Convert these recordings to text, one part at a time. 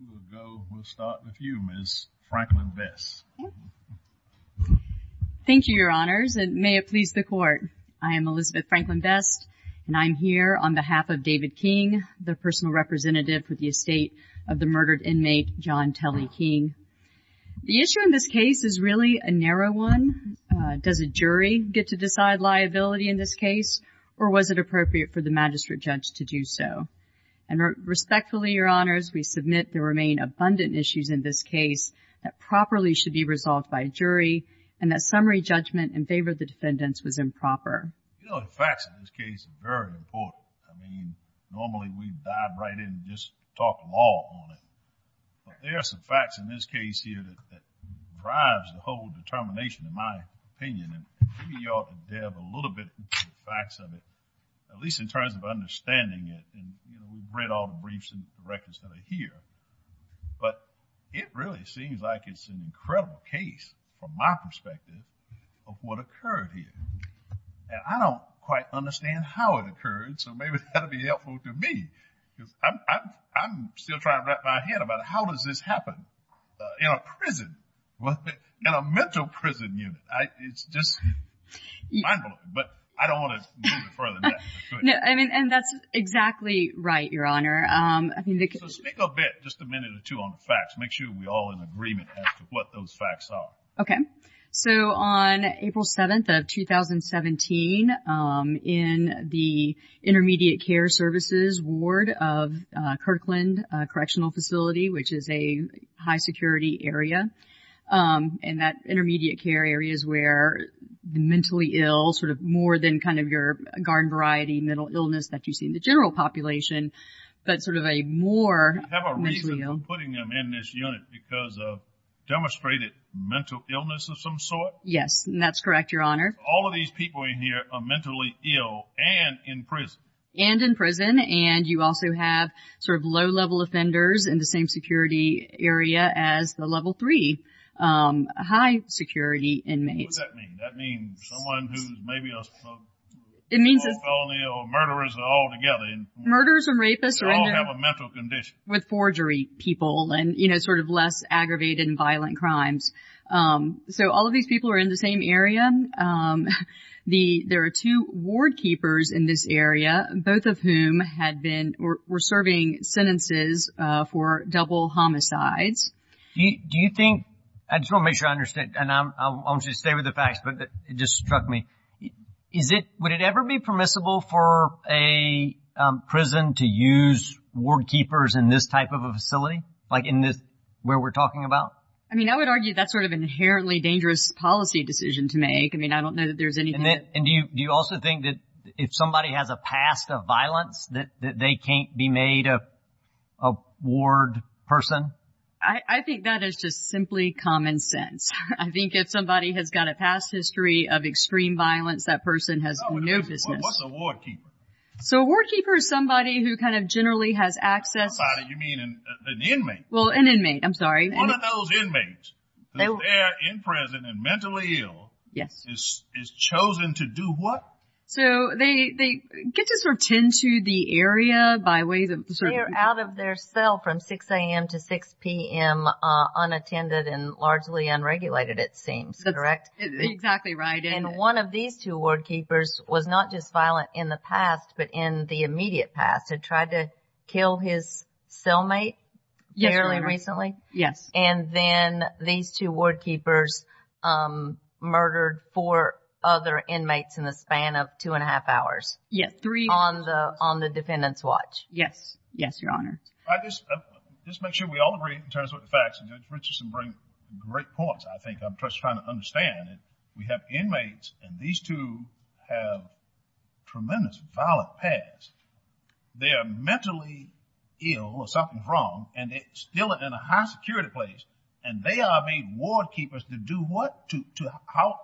We'll go, we'll start with you, Ms. Franklin-Vest. Thank you, your honors, and may it please the court. I am Elizabeth Franklin-Vest, and I'm here on behalf of David King, the personal representative for the estate of the murdered inmate, John Tully King. The issue in this case is really a narrow one. Does a jury get to decide liability in this case, or was it appropriate for the magistrate judge to do so? And respectfully, your honors, we submit there remain abundant issues in this case that properly should be resolved by jury, and that summary judgment in favor of the defendants was improper. You know, the facts of this case are very important. I mean, normally we dive right in and just talk law on it, but there are some facts in this case here that drives the whole determination, in my opinion, and maybe you ought to delve a little bit into the facts of it, at least in terms of understanding it. And, you know, we've read all the briefs and records that are here, but it really seems like it's an incredible case, from my perspective, of what occurred here. And I don't quite understand how it occurred, so maybe that'll be helpful to me, because I'm still trying to wrap my head about how does this happen in a prison, in a mental prison unit? It's just mind-blowing, but I don't want to move it further than that. No, I mean, and that's exactly right, Your Honor. So speak a bit, just a minute or two, on the facts. Make sure we're all in agreement as to what those facts are. Okay, so on April 7th of 2017, in the Intermediate Care Services Ward of Kirkland Correctional Facility, which is a high-security area, and that intermediate care area is where the mentally ill, sort of more than kind of your garden-variety mental illness that you see in the general population, but sort of a more mentally ill. You have a reason for putting them in this unit, because of demonstrated mental illness of some sort? Yes, and that's correct, Your Honor. All of these people in here are mentally ill and in prison. And in prison, and you also have sort of low-level offenders in the same security area as the level three high-security inmates. What does that mean? That means someone who's maybe a felon or a murderer is all together. Murders and rapists are in there. They all have a mental condition. With forgery people and sort of less aggravated and violent crimes. So all of these people are in the same area. There are two ward keepers in this area, both of whom were serving sentences for double homicides. Do you think, I just want to make sure I understand, and I'll just stay with the facts, but it just struck me. Would it ever be permissible for a prison to use ward keepers in this type of a facility? Like in this, where we're talking about? I mean, I would argue that's sort of inherently dangerous policy decision to make. I mean, I don't know that there's anything that... And do you also think that if somebody has a past of violence, that they can't be made a ward person? I think that is just simply common sense. I think if somebody has got a past history of extreme violence, that person has no business. What's a ward keeper? So a ward keeper is somebody who kind of generally has access... By somebody, you mean an inmate? Well, an inmate, I'm sorry. One of those inmates, that they're in prison and mentally ill, is chosen to do what? So they get to sort of tend to the area by way of... So they're out of their cell from 6 a.m. to 6 p.m. Unattended and largely unregulated, it seems, correct? Exactly right. And one of these two ward keepers was not just violent in the past, but in the immediate past. Had tried to kill his cellmate fairly recently. Yes. And then these two ward keepers murdered four other inmates in the span of two and a half hours. Yes, three and a half hours. On the defendant's watch. Yes, yes, Your Honor. All right, let's make sure we all agree in terms of the facts. Judge Richardson brings great points, I think. I'm just trying to understand it. We have inmates, and these two have tremendous violent pasts. They are mentally ill or something's wrong, and they're still in a high-security place, and they are made ward keepers to do what, to how?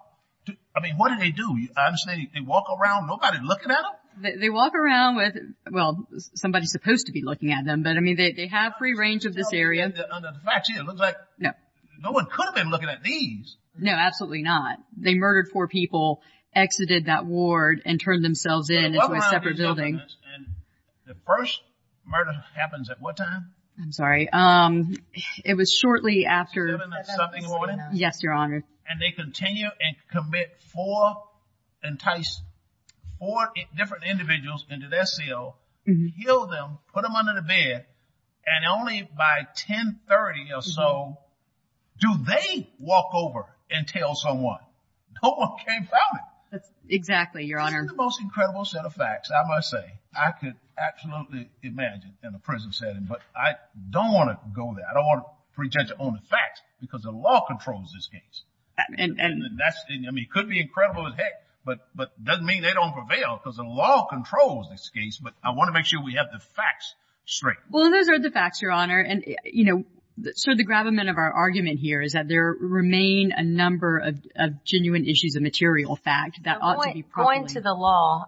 I mean, what do they do? I understand they walk around, nobody looking at them? They walk around with, well, somebody's supposed to be looking at them, but I mean, they have free range of this area. It looks like no one could have been looking at these. No, absolutely not. They murdered four people, exited that ward, and turned themselves in into a separate building. And the first murder happens at what time? I'm sorry, it was shortly after. 7 o'clock in the morning? Yes, Your Honor. And they continue and commit four, entice four different individuals into their cell, kill them, put them under the bed, and only by 10.30 or so do they walk over and tell someone. No one came found them. Exactly, Your Honor. This is the most incredible set of facts, I must say. I could absolutely imagine in a prison setting, but I don't want to go there. I don't want to pretend to own the facts because the law controls this case. And that's, I mean, it could be incredible as heck, but it doesn't mean they don't prevail because the law controls this case, but I want to make sure we have the facts straight. Well, those are the facts, Your Honor. And, you know, sort of the gravamen of our argument here is that there remain a number of genuine issues, a material fact that ought to be properly- Going to the law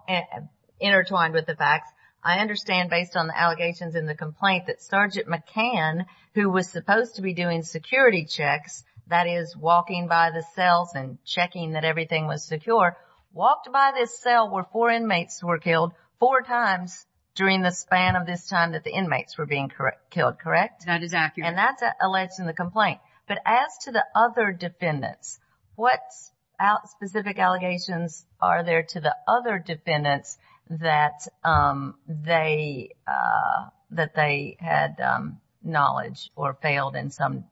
intertwined with the facts, I understand based on the allegations in the complaint that Sergeant McCann, who was supposed to be doing security checks, that is walking by the cells and checking that everything was secure, walked by this cell where four inmates were killed four times during the span of this time that the inmates were being killed, correct? That is accurate. And that's alleged in the complaint. But as to the other defendants, what specific allegations are there to the other defendants that they had knowledge or failed in some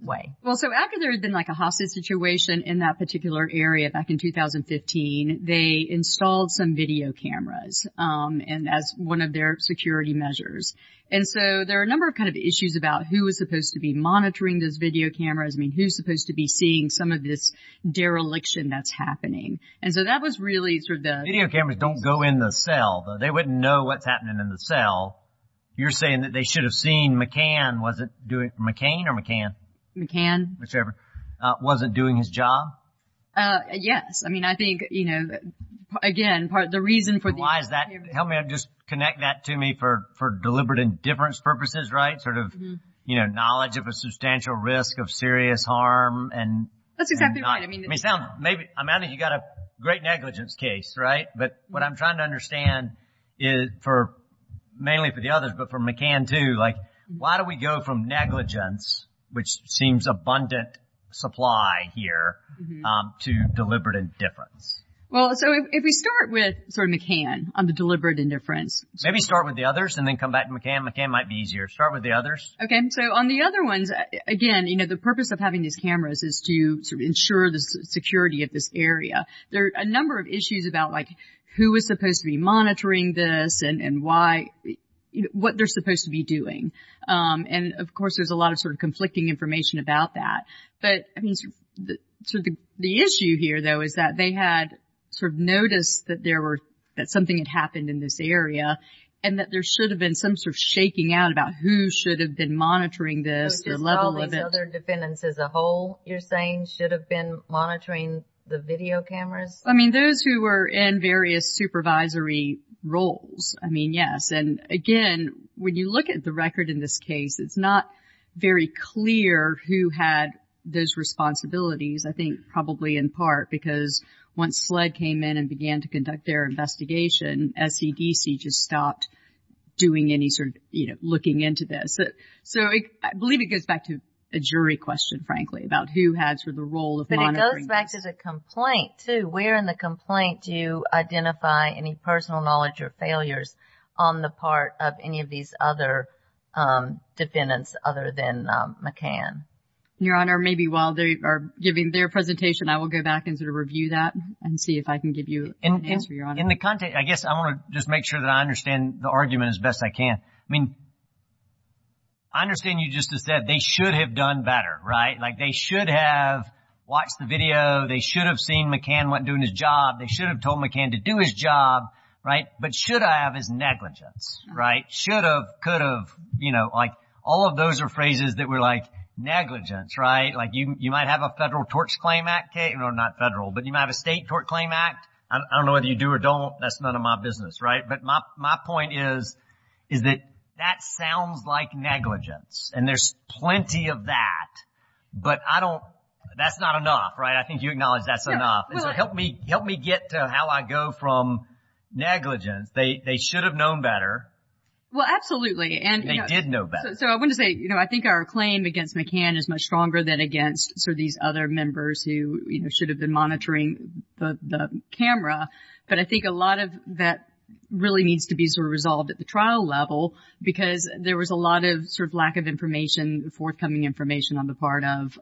way? Well, so after there had been like a hostage situation in that particular area back in 2015, they installed some video cameras as one of their security measures. And so there are a number of kind of issues about who was supposed to be monitoring those video cameras. I mean, who's supposed to be seeing some of this dereliction that's happening. And so that was really sort of the- Video cameras don't go in the cell. They wouldn't know what's happening in the cell. You're saying that they should have seen McCann, was it McCain or McCann? McCann. Whichever, wasn't doing his job? Yes. I mean, I think, you know, again, the reason for- Help me out, just connect that to me for deliberate indifference purposes, right? Sort of, you know, knowledge of a substantial risk of serious harm and- That's exactly right. I mean, I'm adding you got a great negligence case, right? But what I'm trying to understand is for, mainly for the others, but for McCann too, like why do we go from negligence, which seems abundant supply here, to deliberate indifference? Well, so if we start with sort of McCann on the deliberate indifference- Maybe start with the others and then come back to McCann. McCann might be easier. Start with the others. Okay, so on the other ones, again, you know, the purpose of having these cameras is to ensure the security of this area. There are a number of issues about like who was supposed to be monitoring this and why, what they're supposed to be doing. And of course, there's a lot of sort of conflicting information about that. But I mean, so the issue here though, is that they had sort of noticed that there were, that something had happened in this area and that there should have been some sort of shaking out about who should have been monitoring this, the level of it- Which is all these other defendants as a whole, you're saying should have been monitoring the video cameras? I mean, those who were in various supervisory roles. I mean, yes. And again, when you look at the record in this case, it's not very clear who had those responsibilities. I think probably in part because once SLED came in and began to conduct their investigation, SEDC just stopped doing any sort of, you know, looking into this. So I believe it goes back to a jury question, frankly, about who had sort of the role of monitoring this. But it goes back to the complaint too. Where in the complaint do you identify any personal knowledge or failures on the part of any of these other defendants other than McCann? Your Honor, maybe while they are giving their presentation, I will go back and sort of review that and see if I can give you an answer, Your Honor. In the context, I guess I want to just make sure that I understand the argument as best I can. I mean, I understand you just said they should have done better, right? Like they should have watched the video. They should have seen McCann wasn't doing his job. They should have told McCann to do his job, right? But should I have is negligence, right? Should have, could have, you know, like all of those are phrases that were like, negligence, right? Like you might have a Federal Torch Claim Act case, or not federal, but you might have a State Torch Claim Act. I don't know whether you do or don't. That's none of my business, right? But my point is that that sounds like negligence and there's plenty of that. But I don't, that's not enough, right? I think you acknowledge that's enough. Help me get to how I go from negligence. They should have known better. Well, absolutely. And they did know better. So I want to say, you know, I think our claim against McCann is much stronger than against sort of these other members who should have been monitoring the camera. But I think a lot of that really needs to be sort of resolved at the trial level, because there was a lot of sort of lack of information, forthcoming information on the part of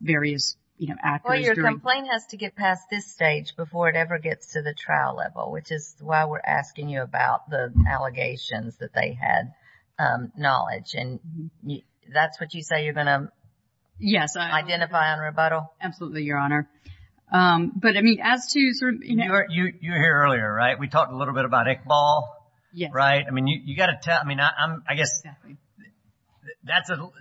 various, you know, actors. Well, your complaint has to get past this stage before it ever gets to the trial level, which is why we're asking you about the allegations that they had knowledge. And that's what you say you're going to identify on rebuttal? Absolutely, Your Honor. But I mean, as to sort of, you know, You were here earlier, right? We talked a little bit about Iqbal, right? I mean, you got to tell, I mean, I guess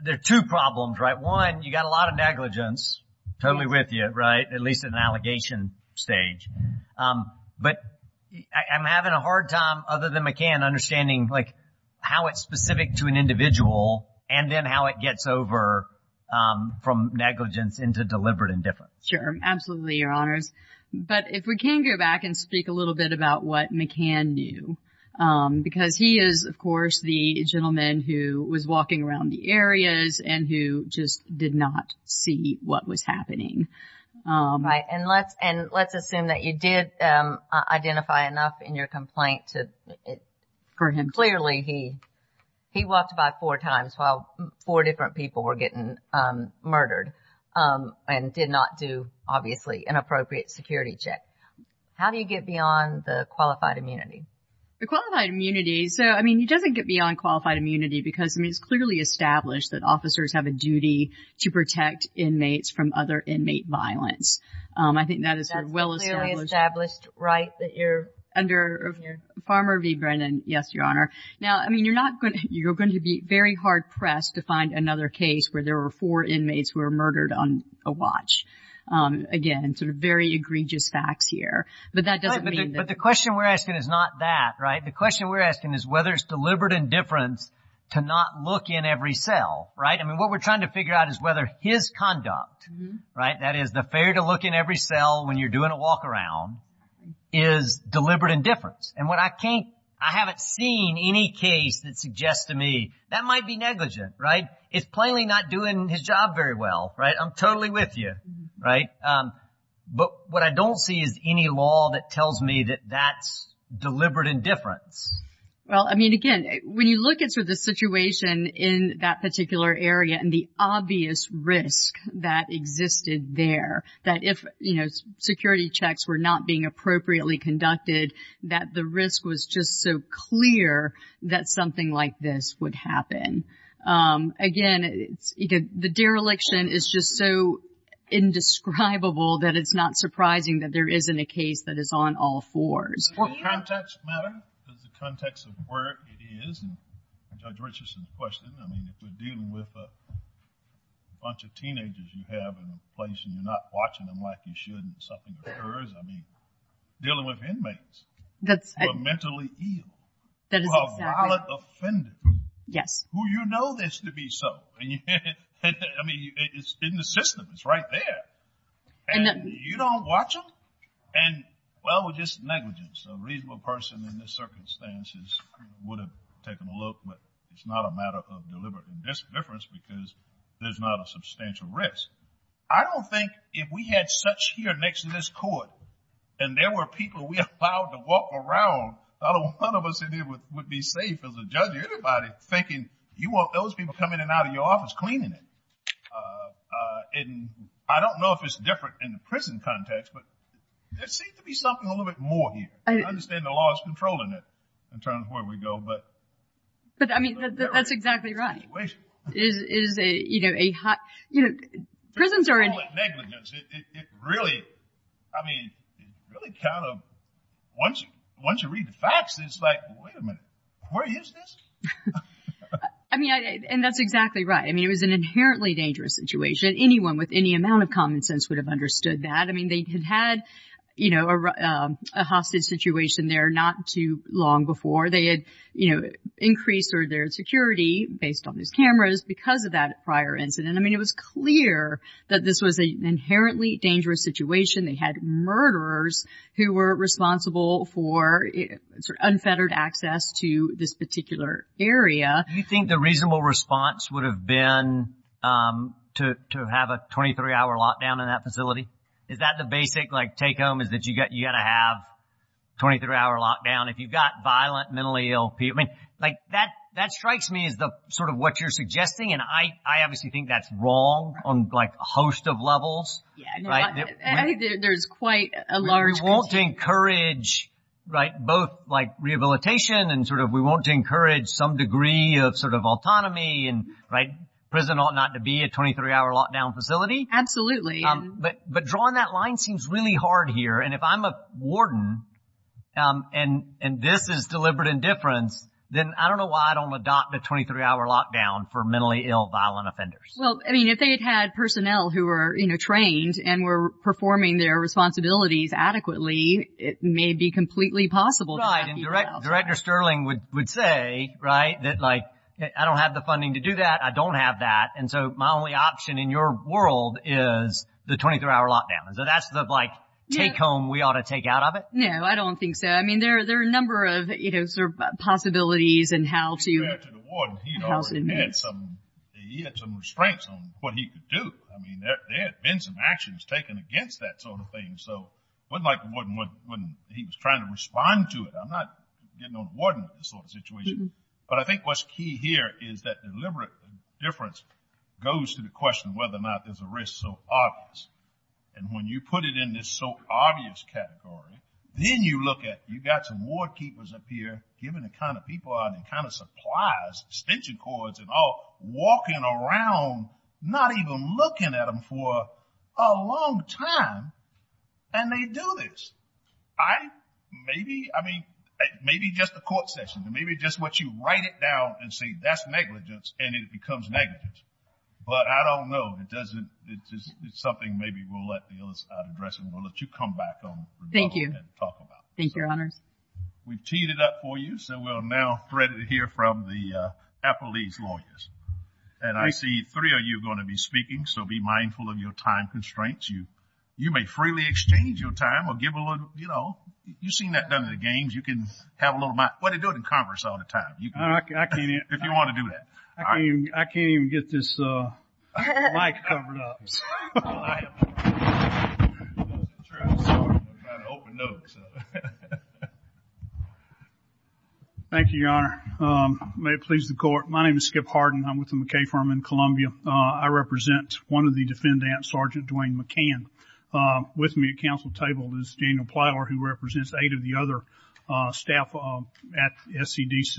there are two problems, right? One, you got a lot of negligence totally with you, right? At least at an allegation stage. But I'm having a hard time other than McCann understanding, like, how it's specific to an individual and then how it gets over from negligence into deliberate indifference. Sure, absolutely, Your Honors. But if we can go back and speak a little bit about what McCann knew, because he is, of course, the gentleman who was walking around the areas and who just did not see what was happening. Right, and let's assume that you did identify enough in your complaint to, clearly, he walked by four times while four different people were getting murdered and did not do, obviously, an appropriate security check. How do you get beyond the qualified immunity? The qualified immunity, so, I mean, he doesn't get beyond qualified immunity because, I mean, it's clearly established that officers have a duty to protect inmates from other inmate violence. I think that is a well-established- That's clearly established, right, that you're under Farmer v. Brennan. Yes, Your Honor. Now, I mean, you're going to be very hard-pressed to find another case where there were four inmates who were murdered on a watch. Again, sort of very egregious facts here, but that doesn't mean that- But the question we're asking is not that, right? The question we're asking is whether it's deliberate indifference to not look in every cell, right? I mean, what we're trying to figure out is whether his conduct, right, that is the failure to look in every cell when you're doing a walk-around, is deliberate indifference. And what I can't, I haven't seen any case that suggests to me that might be negligent, right? It's plainly not doing his job very well, right? I'm totally with you, right? But what I don't see is any law that tells me that that's deliberate indifference. Well, I mean, again, when you look at sort of the situation in that particular area and the obvious risk that existed there, that if security checks were not being appropriately conducted, that the risk was just so clear that something like this would happen. Again, the dereliction is just so indescribable that it's not surprising that there isn't a case that is on all fours. Does the context matter? Does the context of where it is, and Judge Richardson's question, I mean, if you're dealing with a bunch of teenagers you have in a place and you're not watching them like you should and something occurs, I mean, dealing with inmates who are mentally ill, who are violent offenders, who you know this to be so. And I mean, it's in the system, it's right there. And you don't watch them, and well, just negligence. A reasonable person in this circumstances would have taken a look, but it's not a matter of deliberate indifference because there's not a substantial risk. I don't think if we had such here next to this court, and there were people we allowed to walk around, not a one of us in here would be safe as a judge, or anybody thinking you want those people coming in and out of your office, cleaning it. And I don't know if it's different in the prison context, but there seems to be something a little bit more here. I understand the law is controlling it in terms of where we go, but. I mean, that's exactly right. Prisons are. Negligence, it really, I mean, really kind of, once you read the facts, it's like, wait a minute, where is this? I mean, and that's exactly right. I mean, it was an inherently dangerous situation. Anyone with any amount of common sense would have understood that. I mean, they had had a hostage situation there not too long before. They had increased their security based on these cameras because of that prior incident. I mean, it was clear that this was an inherently dangerous situation. They had murderers who were responsible for unfettered access to this particular area. Do you think the reasonable response would have been to have a 23-hour lockdown in that facility? Is that the basic take-home, is that you gotta have 23-hour lockdown? If you've got violent, mentally ill people, I mean, that strikes me as sort of what you're suggesting, and I obviously think that's wrong on a host of levels. Yeah, no, I think there's quite a large- We want to encourage both rehabilitation and sort of, we want to encourage some degree of sort of autonomy, and prison ought not to be a 23-hour lockdown facility. Absolutely. But drawing that line seems really hard here, and if I'm a warden, and this is deliberate indifference, then I don't know why I don't adopt a 23-hour lockdown for mentally ill, violent offenders. Well, I mean, if they had had personnel who were trained and were performing their responsibilities adequately, it may be completely possible- Right, and Director Sterling would say, right, that like, I don't have the funding to do that, I don't have that, and so my only option in your world is the 23-hour lockdown. So that's the, like, take-home we ought to take out of it? No, I don't think so. I mean, there are a number of, you know, sort of possibilities in how to- If you add to the warden, he'd already had some, he had some restraints on what he could do. I mean, there had been some actions taken against that sort of thing, so it wasn't like the warden when he was trying to respond to it. I'm not getting on the warden with this sort of situation, but I think what's key here is that deliberate indifference goes to the question of whether or not there's a risk, so obvious. And when you put it in this so obvious category, then you look at, you've got some ward keepers up here giving the kind of people out and kind of supplies, extension cords and all, walking around, not even looking at them for a long time, and they do this. I, maybe, I mean, maybe just a court session, maybe just what you write it down and say, that's negligence, and it becomes negligence. But I don't know, it doesn't, it's just, it's something maybe we'll let the others address and we'll let you come back on and talk about. Thank you, thank you, your honors. We've teed it up for you, so we'll now thread it here from the appellee's lawyers. And I see three of you are going to be speaking, so be mindful of your time constraints. You may freely exchange your time or give a little, you know, you've seen that done at the games, you can have a little, well, they do it in Congress all the time, you can, if you want to do that. I can't even get this mic covered up. Thank you, your honor. May it please the court. My name is Skip Harden. I'm with the McKay Firm in Columbia. I represent one of the defendants, Sergeant Dwayne McCann. With me at council table is Daniel Plyler, who represents eight of the other staff at SCDC.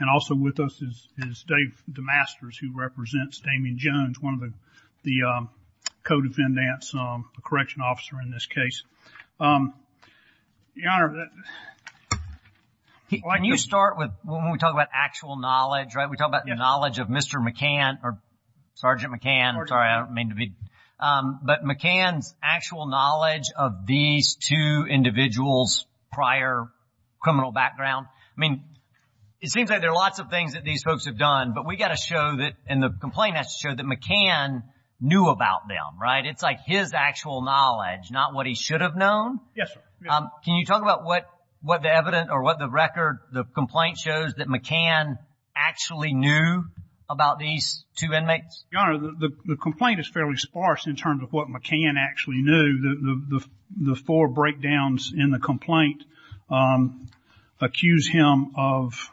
And also with us is Dave DeMasters, who represents Damian Jones, one of the co-defendants, a correction officer in this case. Your honor. Why don't you start with, when we talk about actual knowledge, right? We talk about the knowledge of Mr. McCann, or Sergeant McCann, I'm sorry, I don't mean to be, but McCann's actual knowledge of these two individuals' prior criminal background. I mean, it seems like there are lots of things that these folks have done, but we gotta show that, and the complaint has to show, that McCann knew about them, right? It's like his actual knowledge, not what he should have known. Yes, sir. Can you talk about what the evidence, or what the record, the complaint shows, that McCann actually knew about these two inmates? Your honor, the complaint is fairly sparse in terms of what McCann actually knew. The four breakdowns in the complaint accuse him of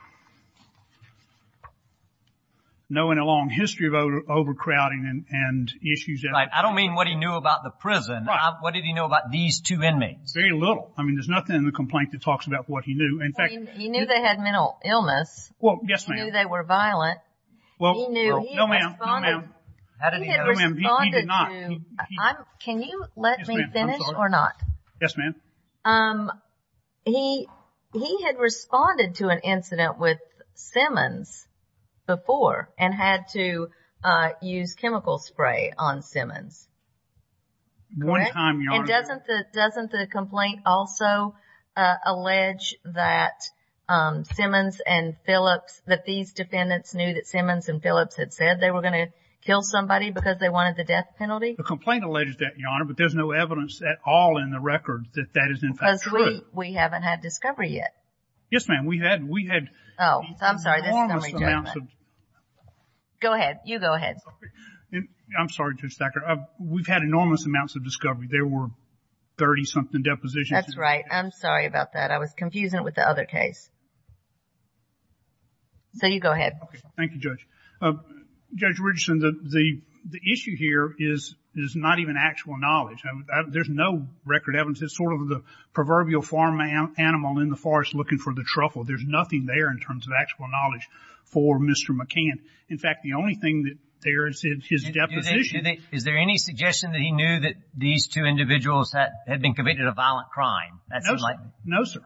knowing a long history of overcrowding and issues. I don't mean what he knew about the prison. What did he know about these two inmates? Very little. I mean, there's nothing in the complaint that talks about what he knew. In fact- He knew they had mental illness. Well, yes ma'am. He knew they were violent. Well, no ma'am, no ma'am. How did he know? No ma'am, he did not. Can you let me finish, or not? Yes ma'am. He had responded to an incident with Simmons before, and had to use chemical spray on Simmons. One time, your honor. And doesn't the complaint also allege that Simmons and Phillips, that these defendants knew that Simmons and Phillips had said they were gonna kill somebody because they wanted the death penalty? The complaint alleges that, your honor, but there's no evidence at all in the record that that is in fact true. Because we haven't had discovery yet. Yes ma'am, we had. Oh, I'm sorry, this is gonna be difficult. Go ahead, you go ahead. I'm sorry, Judge Thacker. We've had enormous amounts of discovery. There were 30-something depositions. That's right, I'm sorry about that. I was confusing it with the other case. So you go ahead. Thank you, Judge. Judge Richardson, the issue here is not even actual knowledge. There's no record evidence. It's sort of the proverbial farm animal in the forest looking for the truffle. There's nothing there in terms of actual knowledge for Mr. McCann. In fact, the only thing that there is in his deposition. Is there any suggestion that he knew that these two individuals had been committed a violent crime? No, sir.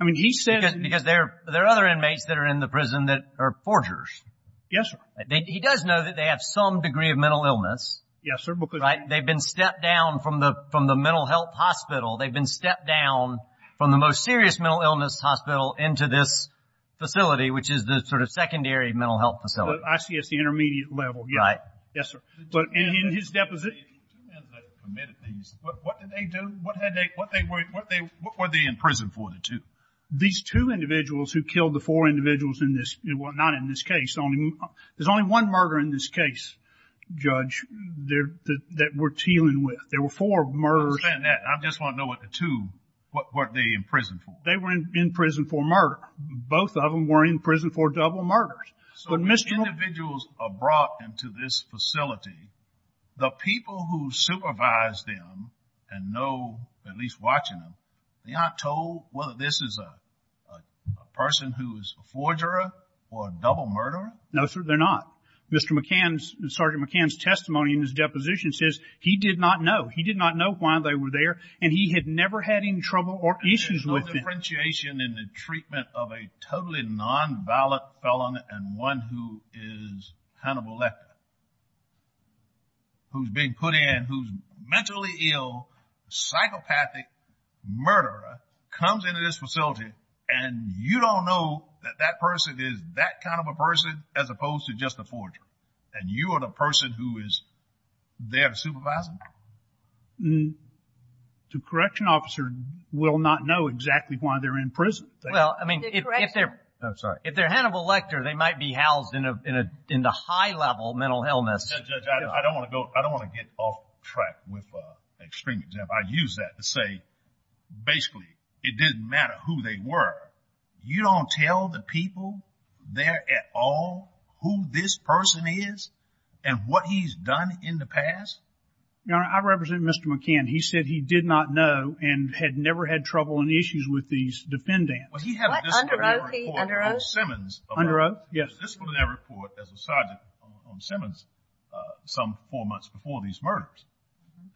I mean, he said. Because there are other inmates that are in the prison that are forgers. Yes, sir. He does know that they have some degree of mental illness. Yes, sir. They've been stepped down from the mental health hospital they've been stepped down from the most serious mental illness hospital into this facility which is the sort of secondary mental health facility. I see it's the intermediate level. Right. Yes, sir. But in his deposition. The two men that committed these, what did they do? What were they in prison for, the two? These two individuals who killed the four individuals in this, well, not in this case. There's only one murder in this case, Judge, that we're dealing with. There were four murders. I understand that. I just want to know what the two, what were they in prison for? They were in prison for murder. Both of them were in prison for double murders. So the individuals are brought into this facility, the people who supervise them and know, at least watching them, they aren't told whether this is a person who is a forger or a double murderer? No, sir, they're not. Mr. McCann's, Sergeant McCann's testimony in his deposition says he did not know. He did not know why they were there and he had never had any trouble or issues with them. There's no differentiation in the treatment of a totally non-valid felon and one who is connoblected, who's being put in, who's mentally ill, psychopathic murderer, comes into this facility and you don't know that that person is that kind of a person as opposed to just a forger. And you are the person who is their supervisor? The correction officer will not know exactly why they're in prison. Well, I mean, if they're Hannibal Lecter, they might be housed in a high-level mental illness. Judge, I don't want to get off track with extreme examples. I use that to say, basically, it didn't matter who they were. You don't tell the people there at all who this person is and what he's done in the past? Your Honor, I represent Mr. McCann. He said he did not know and had never had trouble and issues with these defendants. Was he having this kind of report on Simmons? Under oath, yes. This was in that report as a sergeant on Simmons some four months before these murders.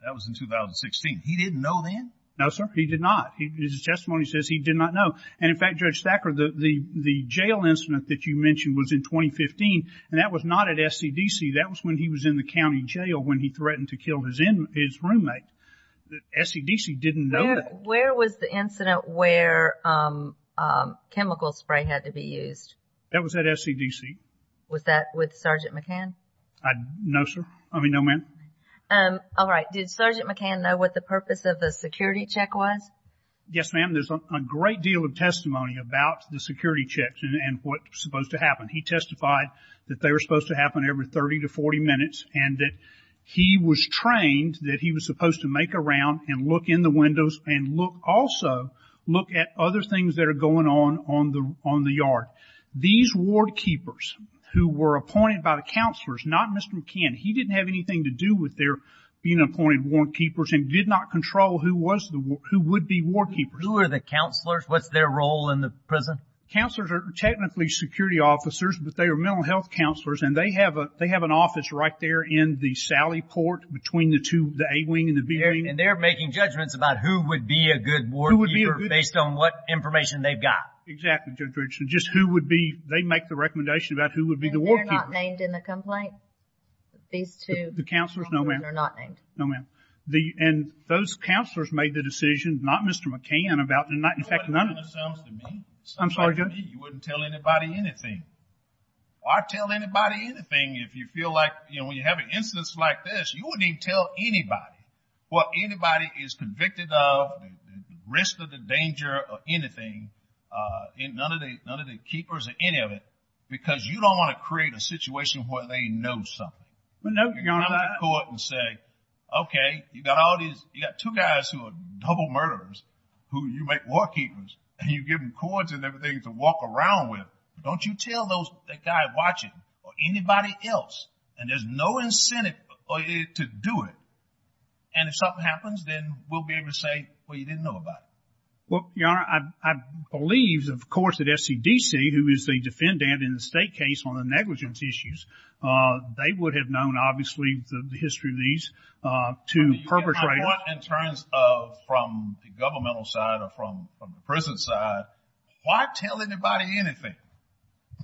That was in 2016. He didn't know then? No, sir, he did not. His testimony says he did not know. And in fact, Judge Thacker, the jail incident that you mentioned was in 2015, and that was not at SCDC. That was when he was in the county jail when he threatened to kill his roommate. SCDC didn't know that. Where was the incident where chemical spray had to be used? That was at SCDC. Was that with Sergeant McCann? No, sir. I mean, no, ma'am. All right, did Sergeant McCann know what the purpose of the security check was? Yes, ma'am, there's a great deal of testimony about the security checks and what's supposed to happen. He testified that they were supposed to happen every 30 to 40 minutes, and that he was trained that he was supposed to make a round and look in the windows and also look at other things that are going on on the yard. These ward keepers who were appointed by the counselors, not Mr. McCann, he didn't have anything to do with their being appointed ward keepers and did not control who would be ward keepers. Who are the counselors? What's their role in the prison? Counselors are technically security officers, but they are mental health counselors, and they have an office right there in the sally port between the two, the A wing and the B wing. And they're making judgments about who would be a good ward keeper based on what information they've got. Exactly, Judge Richardson, just who would be, they make the recommendation about who would be the ward keeper. And they're not named in the complaint? These two ward keepers are not named. And those counselors made the decision, not Mr. McCann, about the fact that none of them. That's what it sounds to me. Sounds like to me, you wouldn't tell anybody anything. I'd tell anybody anything if you feel like, you know, when you have an instance like this, you wouldn't even tell anybody what anybody is convicted of, risk of the danger of anything, and none of the keepers or any of it, because you don't want to create a situation where they know something. Well, no, Your Honor. You go to court and say, okay, you got all these, you got two guys who are double murderers, who you make ward keepers, and you give them cords and everything to walk around with. Don't you tell that guy watching, or anybody else, and there's no incentive to do it. And if something happens, then we'll be able to say, well, you didn't know about it. Well, Your Honor, I believe, of course, that SCDC, who is the defendant in the state case on the negligence issues, they would have known, obviously, the history of these, to perpetrate it. In terms of, from the governmental side or from the prison side, why tell anybody anything?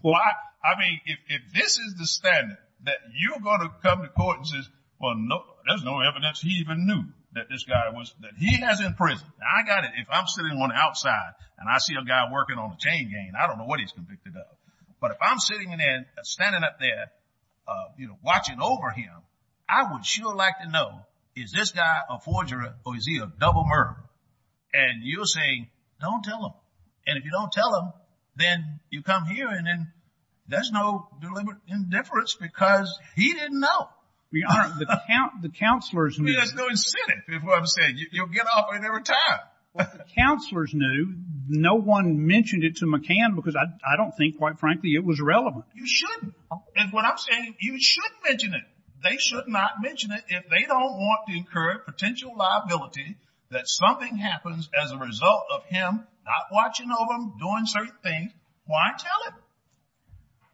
Why? I mean, if this is the standard, that you're going to come to court and say, well, no, there's no evidence he even knew that this guy was, that he has in prison. Now, I got it. If I'm sitting on the outside, and I see a guy working on a chain gang, I don't know what he's convicted of. But if I'm sitting there, standing up there, you know, watching over him, I would sure like to know, is this guy a forger or is he a double murderer? And you're saying, don't tell him. And if you don't tell him, then you come here and then, there's no deliberate indifference, because he didn't know. Your Honor, the counselors knew. I mean, there's no incentive, is what I'm saying. You'll get off it every time. Counselors knew. No one mentioned it to McCann, because I don't think, quite frankly, it was relevant. You should. And what I'm saying, you should mention it. They should not mention it, if they don't want to incur potential liability that something happens as a result of him not watching over him, doing certain things. Why tell him?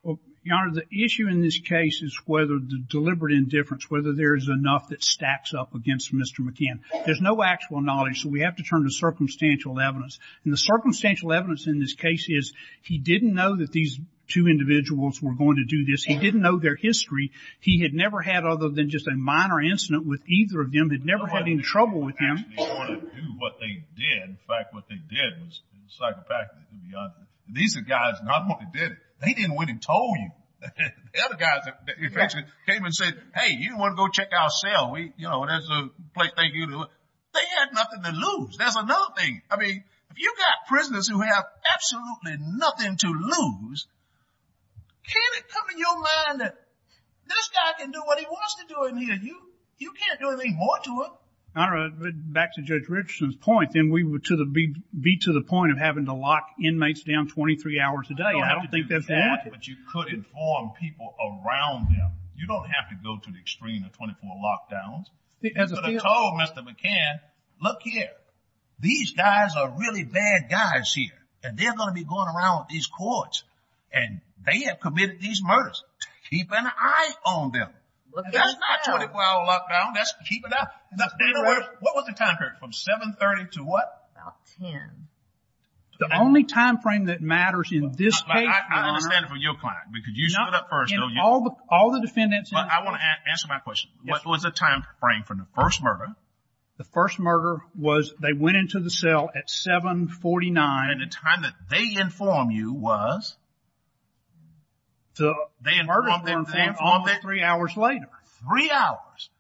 Well, Your Honor, the issue in this case is whether the deliberate indifference, whether there is enough that stacks up against Mr. McCann. There's no actual knowledge, so we have to turn to circumstantial evidence. And the circumstantial evidence in this case is, he didn't know that these two individuals were going to do this. He didn't know their history. He had never had, other than just a minor incident with either of them, had never had any trouble with them. They didn't actually want to do what they did. In fact, what they did was psychopathically, to be honest with you. These are guys, not what they did. They didn't went and told you. The other guys, in effect, came and said, hey, you want to go check our cell? We, you know, there's a place, thank you. They had nothing to lose. There's another thing. I mean, if you've got prisoners who have absolutely nothing to lose, can it come to your mind that this guy can do what he wants to do in here, and you can't do anything more to him? Your Honor, back to Judge Richardson's point, then we would be to the point of having to lock inmates down 23 hours a day. I don't think that's warranted. But you could inform people around them. You don't have to go to the extreme of 24 lockdowns. You could have told Mr. McCann, look here, these guys are really bad guys here, and they're going to be going around with these courts, and they have committed these murders. Keep an eye on them. That's not 24-hour lockdown. That's keep it up. Now, in other words, what was the time period? From 7.30 to what? About 10. The only time frame that matters in this case, Your Honor. I understand it from your client, because you stood up first, don't you? All the defendants. But I want to answer my question. What was the time frame for the first murder? The first murder was they went into the cell at 7.49. And the time that they inform you was? So they informed them three hours later. Three hours.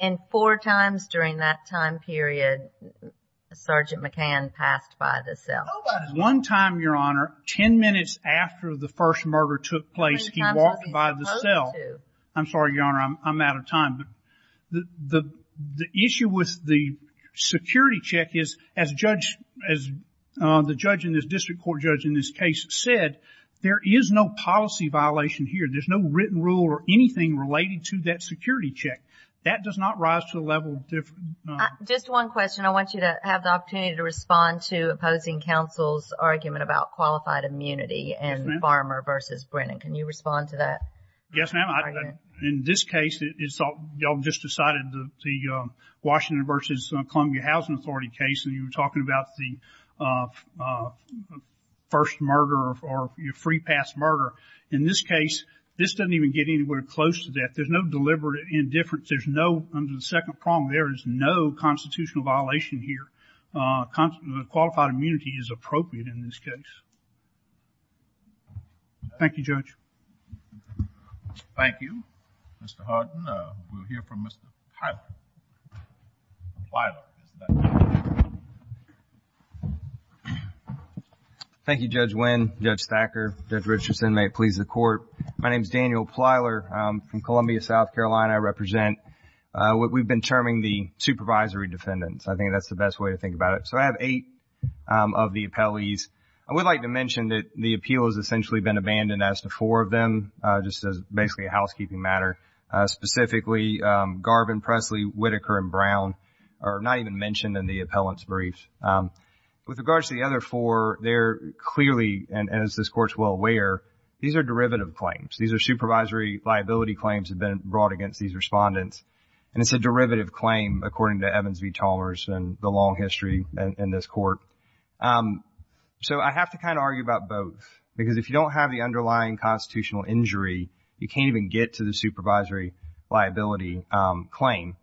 And four times during that time period, Sergeant McCann passed by the cell. One time, Your Honor, 10 minutes after the first murder took place, he walked by the cell. I'm sorry, Your Honor, I'm out of time. The issue with the security check is, as the judge in this district court judge in this case said, there is no policy violation here. There's no written rule or anything related to that security check. That does not rise to the level of different. Just one question. I want you to have the opportunity to respond to opposing counsel's argument about qualified immunity and Farmer versus Brennan. Can you respond to that? Yes, ma'am. In this case, it's all, y'all just decided the Washington versus Columbia Housing Authority case, and you were talking about the first murder or your free pass murder. In this case, this doesn't even get anywhere close to that. There's no deliberate indifference. There's no, under the second prong, there is no constitutional violation here. Qualified immunity is appropriate in this case. Thank you, Judge. Thank you, Mr. Harden. We'll hear from Mr. Plyler. Plyler, is that you? Thank you, Judge Wynn, Judge Thacker, Judge Richardson, may it please the court. My name's Daniel Plyler. I'm from Columbia, South Carolina. I represent, we've been terming the supervisory defendants. I think that's the best way to think about it. So I have eight of the appellees. I would like to mention that the appeal has essentially been abandoned as to force. Four of them, just as basically a housekeeping matter. Specifically, Garvin, Presley, Whitaker, and Brown are not even mentioned in the appellant's briefs. With regards to the other four, they're clearly, and as this court's well aware, these are derivative claims. These are supervisory liability claims that have been brought against these respondents. And it's a derivative claim, according to Evans v. Talmers and the long history in this court. So I have to kind of argue about both, because if you don't have the underlying constitutional injury, you can't even get to the supervisory liability claim.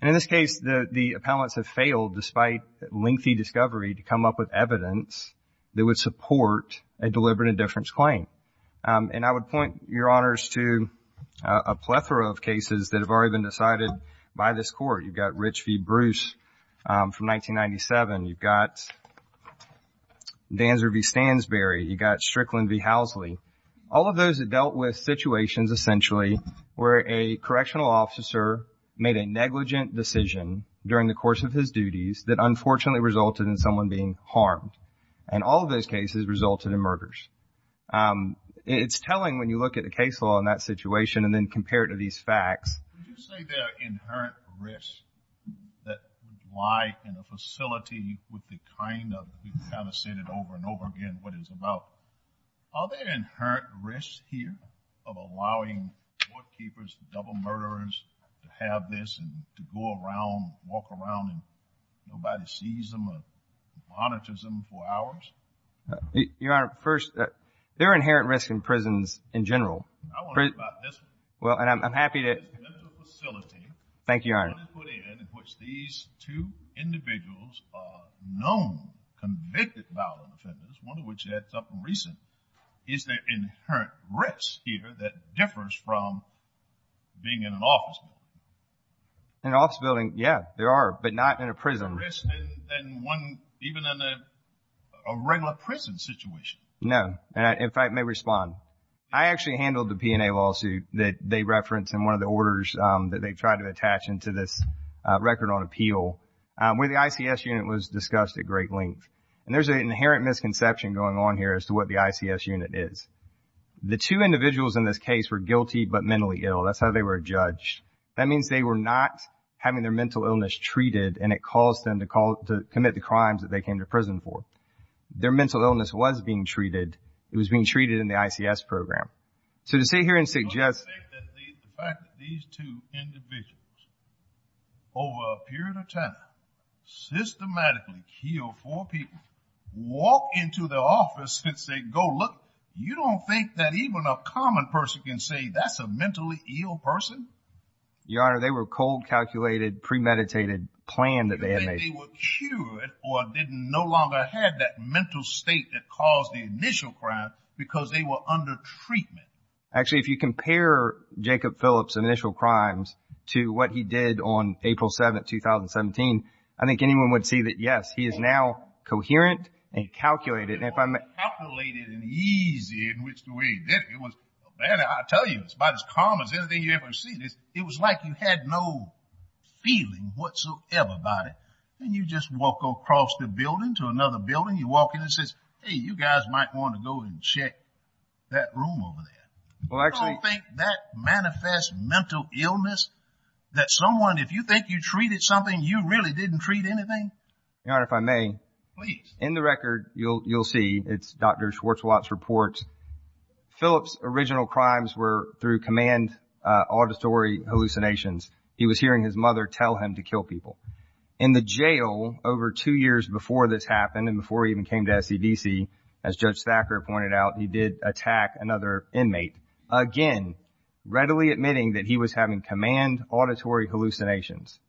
And in this case, the appellants have failed, despite lengthy discovery, to come up with evidence that would support a deliberate indifference claim. And I would point your honors to a plethora of cases that have already been decided by this court. You've got Rich v. Bruce from 1997. You've got Danzer v. Stansberry. You've got Strickland v. Housley. All of those have dealt with situations, essentially, where a correctional officer made a negligent decision during the course of his duties that unfortunately resulted in someone being harmed. And all of those cases resulted in murders. It's telling when you look at the case law in that situation and then compare it to these facts. Would you say there are inherent risks that would lie in a facility with the kind of, you've kind of said it over and over again, what it is about. Are there inherent risks here of allowing court keepers, double murderers, to have this and to go around, walk around, and nobody sees them or monitors them for hours? Your honor, first, there are inherent risks in prisons in general. I wonder about this. Well, and I'm happy to. In this facility. Thank you, your honor. In which these two individuals are known convicted violent offenders, one of which adds up recently. Is there inherent risk here that differs from being in an office building? In an office building, yeah, there are. But not in a prison. And one, even in a regular prison situation. No, and if I may respond. I actually handled the P&A lawsuit that they referenced in one of the orders that they tried to attach into this record on appeal, where the ICS unit was discussed at great length. And there's an inherent misconception going on here as to what the ICS unit is. The two individuals in this case were guilty but mentally ill. That's how they were judged. That means they were not having their mental illness treated and it caused them to commit the crimes that they came to prison for. Their mental illness was being treated. It was being treated in the ICS program. So to sit here and suggest that the fact that these two individuals, over a period of time, systematically killed four people, walk into the office and say, go look, you don't think that even a common person can say that's a mentally ill person? Your Honor, they were cold calculated, premeditated, planned that they had made. You think they were cured or didn't no longer have that mental state that caused the initial crime because they were under treatment? Actually, if you compare Jacob Phillips' initial crimes to what he did on April 7th, 2017, I think anyone would see that, yes, he is now coherent and calculated. And if I'm- Calculated and easy in which the way he did it, it was, I tell you, it's about as calm as anything you ever seen. It was like you had no feeling whatsoever about it. And you just walk across the building to another building. You walk in and it says, hey, you guys might wanna go and check that room over there. Well, actually- You don't think that manifests mental illness that someone, if you think you treated something, you really didn't treat anything? Your Honor, if I may. Please. In the record, you'll see, it's Dr. Schwartzwatt's report. Phillips' original crimes were through command auditory hallucinations. He was hearing his mother tell him to kill people. In the jail, over two years before this happened and before he even came to SCDC, as Judge Thacker pointed out, he did attack another inmate. Again, readily admitting that he was having command auditory hallucinations.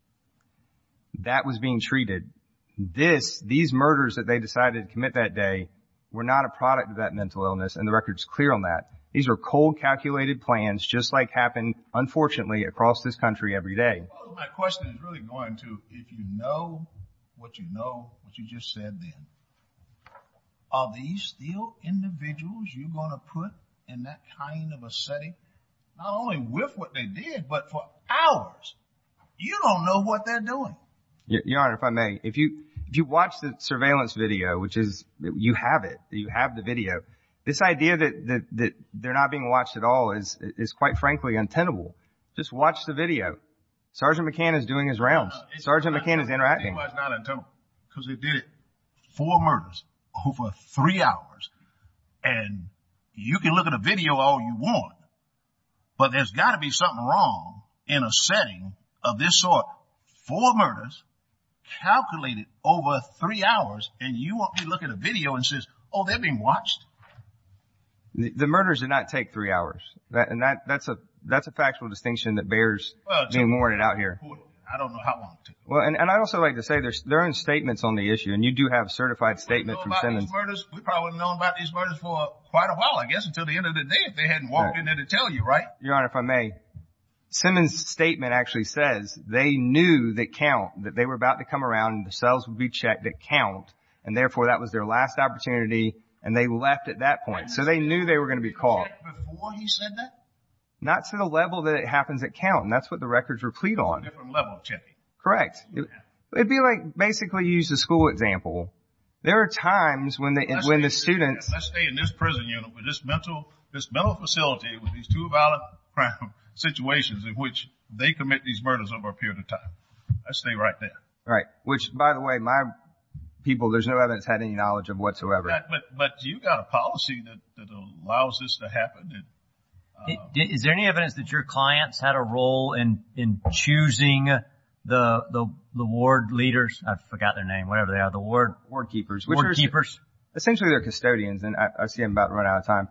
That was being treated. This, these murders that they decided to commit that day were not a product of that mental illness and the record's clear on that. These are cold calculated plans, just like happen, unfortunately, across this country every day. My question is really going to, if you know what you know, what you just said then, are these still individuals you gonna put in that kind of a setting? Not only with what they did, but for hours. You don't know what they're doing. Your Honor, if I may, if you watch the surveillance video, which is, you have it, you have the video, this idea that they're not being watched at all is quite frankly untenable. Just watch the video. Sergeant McCann is doing his rounds. Sergeant McCann is interacting. It was not untenable, because they did four murders over three hours and you can look at a video all you want, but there's gotta be something wrong in a setting of this sort. Four murders, calculated over three hours, and you won't be looking at a video and says, oh, they're being watched. The murders did not take three hours. That's a factual distinction that bears being worded out here. I don't know how long. Well, and I'd also like to say there's their own statements on the issue and you do have a certified statement from Simmons. We probably wouldn't have known about these murders for quite a while, I guess, until the end of the day if they hadn't walked in there to tell you, right? Your Honor, if I may, Simmons' statement actually says they knew that count, that they were about to come around and the cells would be checked at count and therefore that was their last opportunity and they left at that point. So they knew they were gonna be caught. Before he said that? Not to the level that it happens at count. That's what the records were plead on. A different level of checking. Correct. It'd be like, basically, use the school example. There are times when the students- Let's stay in this prison unit or this mental facility with these two violent crime situations in which they commit these murders over a period of time. Let's stay right there. Right. Which, by the way, my people, there's no evidence I had any knowledge of whatsoever. But you've got a policy that allows this to happen. Is there any evidence that your clients had a role in choosing the ward leaders? I forgot their name. Whatever they are. The ward? Ward keepers. Ward keepers. Essentially, they're custodians and I see I'm about to run out of time.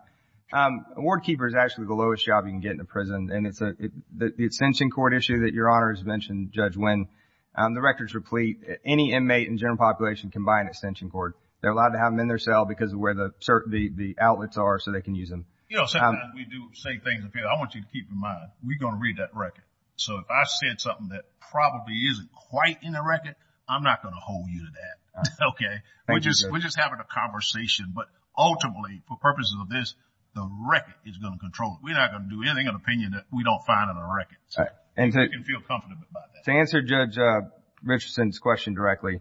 A ward keeper is actually the lowest job you can get in a prison. And it's the extension cord issue that your Honor has mentioned, Judge Wynn. The records were plead. Any inmate in general population can buy an extension cord. They're allowed to have them in their cell because of where the outlets are so they can use them. You know, sometimes we do say things. I want you to keep in mind. We're gonna read that record. So if I said something that probably isn't quite in the record, I'm not gonna hold you to that. Okay? We're just having a conversation. But ultimately, for purposes of this, the record is gonna control it. We're not gonna do anything in opinion that we don't find in the record. So you can feel comfortable about that. To answer Judge Richardson's question directly,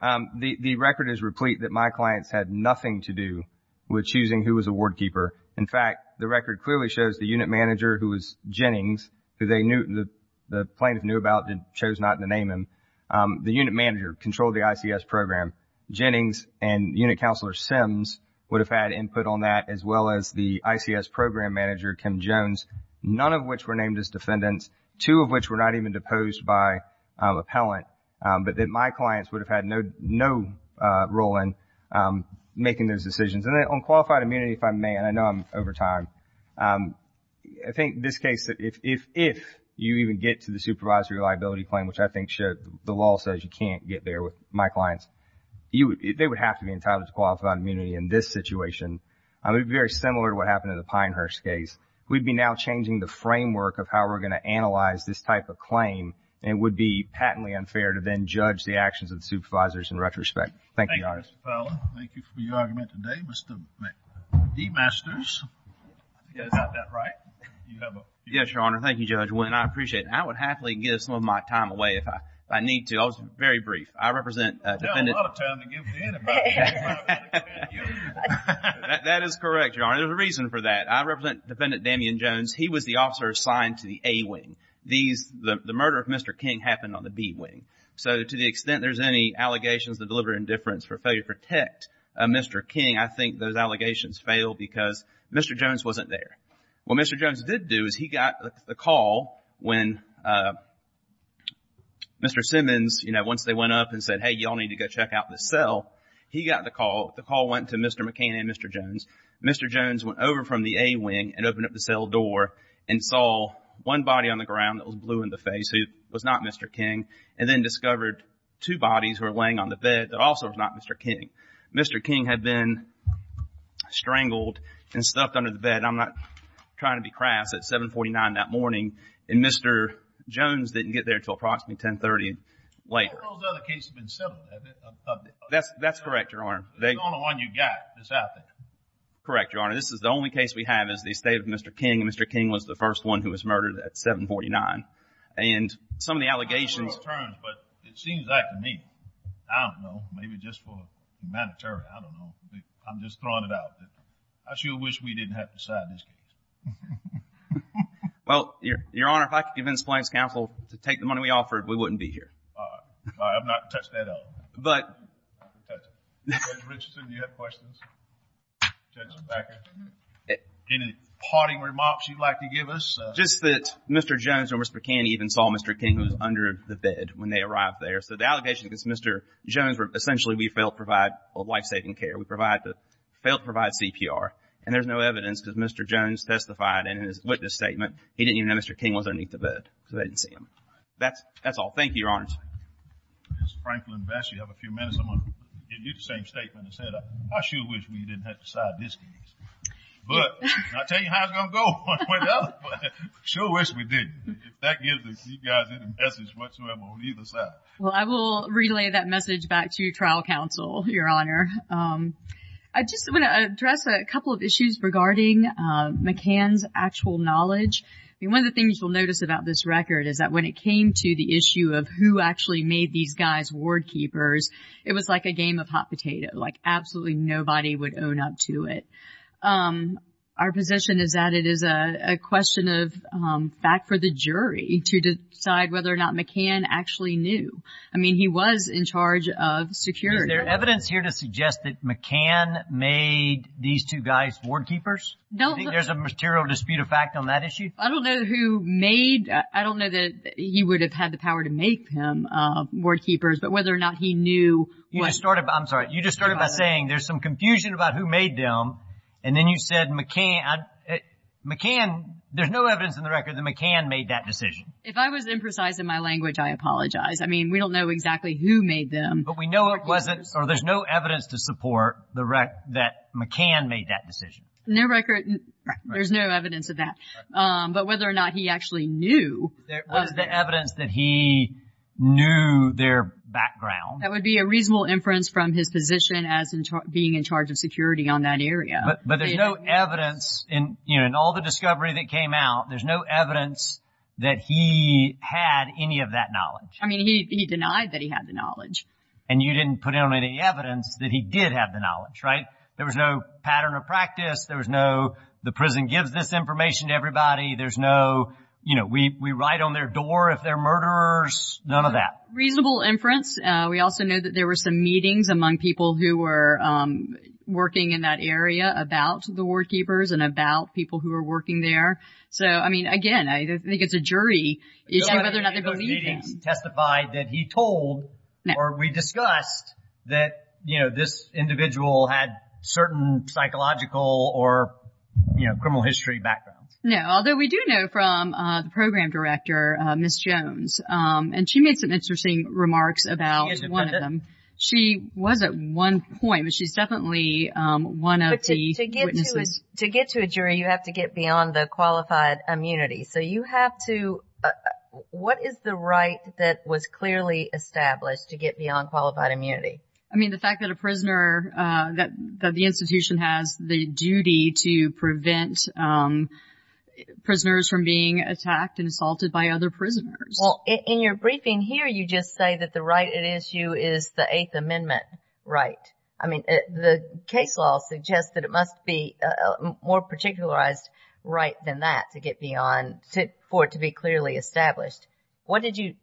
the record is replete that my clients had nothing to do with choosing who was a ward keeper. In fact, the record clearly shows the unit manager who was Jennings, who they knew, the plaintiff knew about and chose not to name him. The unit manager controlled the ICS program. Jennings and unit counselor Sims would have had input on that as well as the ICS program manager, Kim Jones, none of which were named as defendants, two of which were not even deposed by appellant, but that my clients would have had no role in making those decisions. And then on qualified immunity, if I may, and I know I'm over time, I think this case, if you even get to the supervisory liability claim, which I think the law says you can't get there with my clients, they would have to be entitled to qualified immunity in this situation. I mean, very similar to what happened in the Pinehurst case. We'd be now changing the framework of how we're gonna analyze this type of claim and it would be patently unfair to then judge the actions of the supervisors in retrospect. Thank you, Your Honor. Thank you, Mr. Fowler. Thank you for your argument today. Mr. McMasters, is that right? Yes, Your Honor. Thank you, Judge Wynne. I appreciate it. I would happily give some of my time away if I need to. I was very brief. I've got a lot of time to give to anybody. I'm not gonna give it to you. That is correct, Your Honor. There's a reason for that. I represent Defendant Damien Jones. He was the officer assigned to the A wing. These, the murder of Mr. King happened on the B wing. So to the extent there's any allegations of deliberate indifference for failure to protect Mr. King, I think those allegations fail because Mr. Jones wasn't there. What Mr. Jones did do is he got the call when Mr. Simmons, you know, once they went up and said, hey, y'all need to go check out this cell. He got the call. The call went to Mr. McCain and Mr. Jones. Mr. Jones went over from the A wing and opened up the cell door and saw one body on the ground that was blue in the face who was not Mr. King, and then discovered two bodies who were laying on the bed that also was not Mr. King. Mr. King had been strangled and stuffed under the bed. I'm not trying to be crass. It's 749 that morning. And Mr. Jones didn't get there until approximately 1030 later. All those other cases have been settled, haven't they? That's correct, Your Honor. It's the only one you got that's out there. Correct, Your Honor. This is the only case we have is the estate of Mr. King. Mr. King was the first one who was murdered at 749. And some of the allegations- I don't know the terms, but it seems like to me, I don't know, maybe just for humanitarian, I don't know. I'm just throwing it out there. I sure wish we didn't have to decide this case. Well, Your Honor, if I could convince Plains Counsel to take the money we offered, we wouldn't be here. All right. I'm not going to touch that at all. But- I'm not going to touch it. Judge Richardson, do you have questions? Judge Becker, any parting remarks you'd like to give us? Just that Mr. Jones and Mr. McCain even saw Mr. King who was under the bed when they arrived there. So the allegations against Mr. Jones were essentially we failed to provide life-saving care. We failed to provide CPR. And there's no evidence because Mr. Jones testified in his witness statement. He didn't even know Mr. King was underneath the bed. So they didn't see him. That's all. Thank you, Your Honor. Ms. Franklin-Bash, you have a few minutes. I'm going to give you the same statement I said. I sure wish we didn't have to decide this case. But I'll tell you how it's going to go when it's up. Sure wish we didn't. That gives you guys any message whatsoever on either side. Well, I will relay that message back to you, Trial Counsel, Your Honor. I just want to address a couple of issues regarding McCain's actual knowledge. One of the things you'll notice about this record is that when it came to the issue of who actually made these guys ward keepers, it was like a game of hot potato. Like absolutely nobody would own up to it. Our position is that it is a question of fact for the jury to decide whether or not McCain actually knew. I mean, he was in charge of security. Is there evidence here to suggest that McCain made these two guys ward keepers? No. There's a material dispute of fact on that issue. I don't know who made. I don't know that he would have had the power to make them ward keepers, but whether or not he knew. You just started. I'm sorry. You just started by saying there's some confusion about who made them. And then you said McCain, McCain. There's no evidence in the record that McCain made that decision. If I was imprecise in my language, I apologize. I mean, we don't know exactly who made them. But we know it wasn't or there's no evidence to support that McCain made that decision. No record. There's no evidence of that. But whether or not he actually knew. There was the evidence that he knew their background. That would be a reasonable inference from his position as being in charge of security on that area. But there's no evidence in all the discovery that came out. There's no evidence that he had any of that knowledge. I mean, he denied that he had the knowledge. And you didn't put in any evidence that he did have the knowledge, right? There was no pattern of practice. There was no, the prison gives this information to everybody. There's no, you know, we write on their door if they're murderers. None of that. Reasonable inference. We also know that there were some meetings among people who were working in that area about the ward keepers and about people who were working there. So, I mean, again, I think it's a jury. It's whether or not they believe him. Testify that he told or we discussed that this individual had certain psychological or criminal history backgrounds. No, although we do know from the program director, Ms. Jones, and she made some interesting remarks about one of them. She was at one point, but she's definitely one of the witnesses. To get to a jury, you have to get beyond the qualified immunity. So you have to, what is the right that was clearly established to get beyond qualified immunity? I mean, the fact that a prisoner, that the institution has the duty to prevent prisoners from being attacked and assaulted by other prisoners. Well, in your briefing here, you just say that the right at issue is the Eighth Amendment right. I mean, the case law suggests that it must be a more particularized right than that to get beyond, for it to be clearly established. What did you,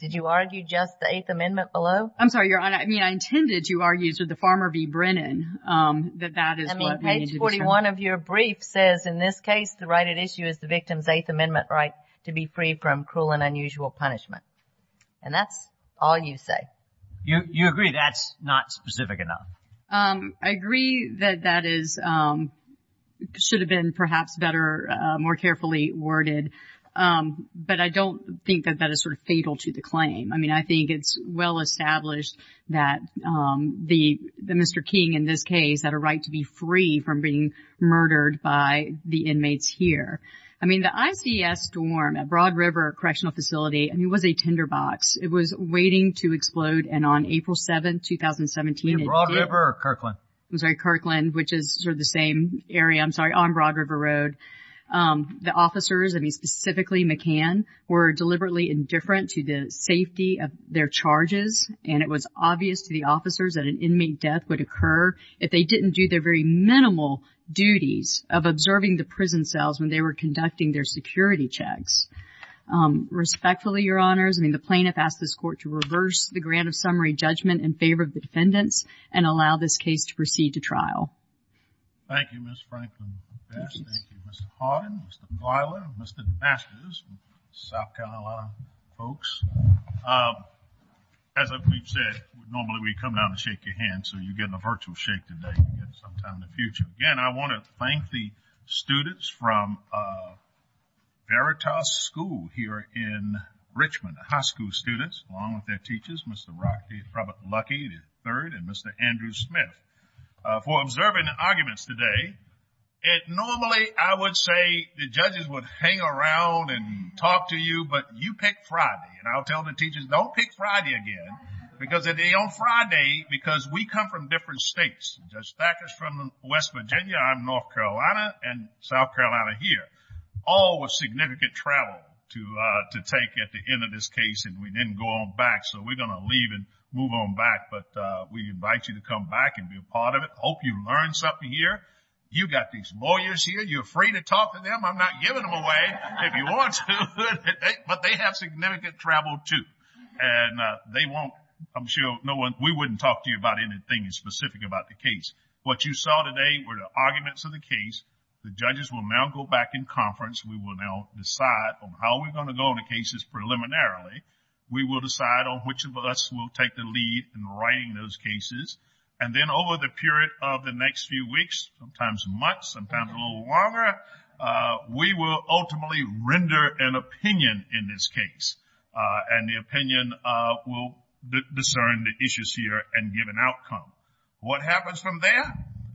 did you argue just the Eighth Amendment below? I'm sorry, Your Honor. I mean, I intended to argue, so the Farmer v. Brennan, that that is what we need to determine. I mean, page 41 of your brief says, in this case, the right at issue is the victim's Eighth Amendment right to be free from cruel and unusual punishment. And that's all you say. You agree that's not specific enough? I agree that that is, should have been perhaps better, more carefully worded, but I don't think that that is sort of fatal to the claim. I mean, I think it's well-established that Mr. King, in this case, had a right to be free from being murdered by the inmates here. I mean, the ICS storm at Broad River Correctional Facility, I mean, it was a tinderbox. It was waiting to explode, and on April 7th, 2017, it did. Was it Broad River or Kirkland? I'm sorry, Kirkland, which is sort of the same area, I'm sorry, on Broad River Road. The officers, I mean, specifically McCann, were deliberately indifferent to the safety of their charges, and it was obvious to the officers that an inmate death would occur if they didn't do their very minimal duties of observing the prison cells when they were conducting their security checks. Respectfully, Your Honors, I mean, the plaintiff asked this court to reverse the grant of summary judgment in favor of the defendants and allow this case to proceed to trial. Thank you, Ms. Franklin-Bash. Thank you, Mr. Harden, Mr. Gleila, Mr. Masters, South Carolina folks. As we've said, normally we come down to shake your hand, so you're getting a virtual shake today. We'll get it sometime in the future. Again, I want to thank the students from Veritas School here in Richmond, the high school students, along with their teachers, Mr. Robert Luckey III and Mr. Andrew Smith for observing the arguments today. It normally, I would say, the judges would hang around and talk to you, but you pick Friday, and I'll tell the teachers, don't pick Friday again, because it'll be on Friday because we come from different states. Judge Thackers from West Virginia, I'm North Carolina, and South Carolina here. All with significant travel to take at the end of this case, and we didn't go on back, so we're gonna leave and move on back, but we invite you to come back and be a part of it. Hope you learn something here. You got these lawyers here. You're free to talk to them. I'm not giving them away, if you want to, but they have significant travel, too, and they won't, I'm sure, we wouldn't talk to you about anything specific about the case. What you saw today were the arguments of the case. The judges will now go back in conference. We will now decide on how we're gonna go on the cases preliminarily. We will decide on which of us will take the lead in writing those cases, and then over the period of the next few weeks, sometimes months, sometimes a little longer, we will ultimately render an opinion in this case, and the opinion will discern the issues here and give an outcome. What happens from there?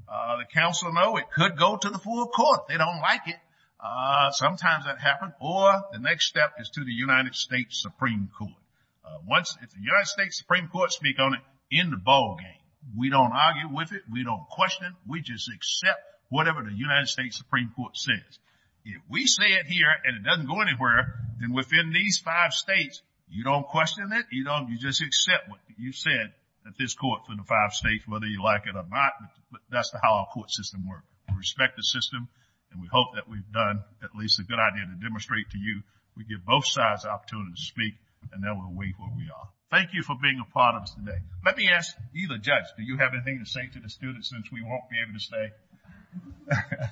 The counsel know it could go to the full court. They don't like it. Sometimes that happens, or the next step is to the United States Supreme Court. Once the United States Supreme Court speak on it, end the ball game. We don't argue with it. We don't question it. We just accept whatever the United States Supreme Court says. If we say it here, and it doesn't go anywhere, then within these five states, you don't question it. You just accept what you said at this court for the five states, whether you like it or not, but that's how our court system works. We respect the system, and we hope that we've done at least a good idea to demonstrate to you we give both sides the opportunity to speak, and that will await where we are. Thank you for being a part of us today. Let me ask either judge, do you have anything to say to the students since we won't be able to stay? All right. Take care.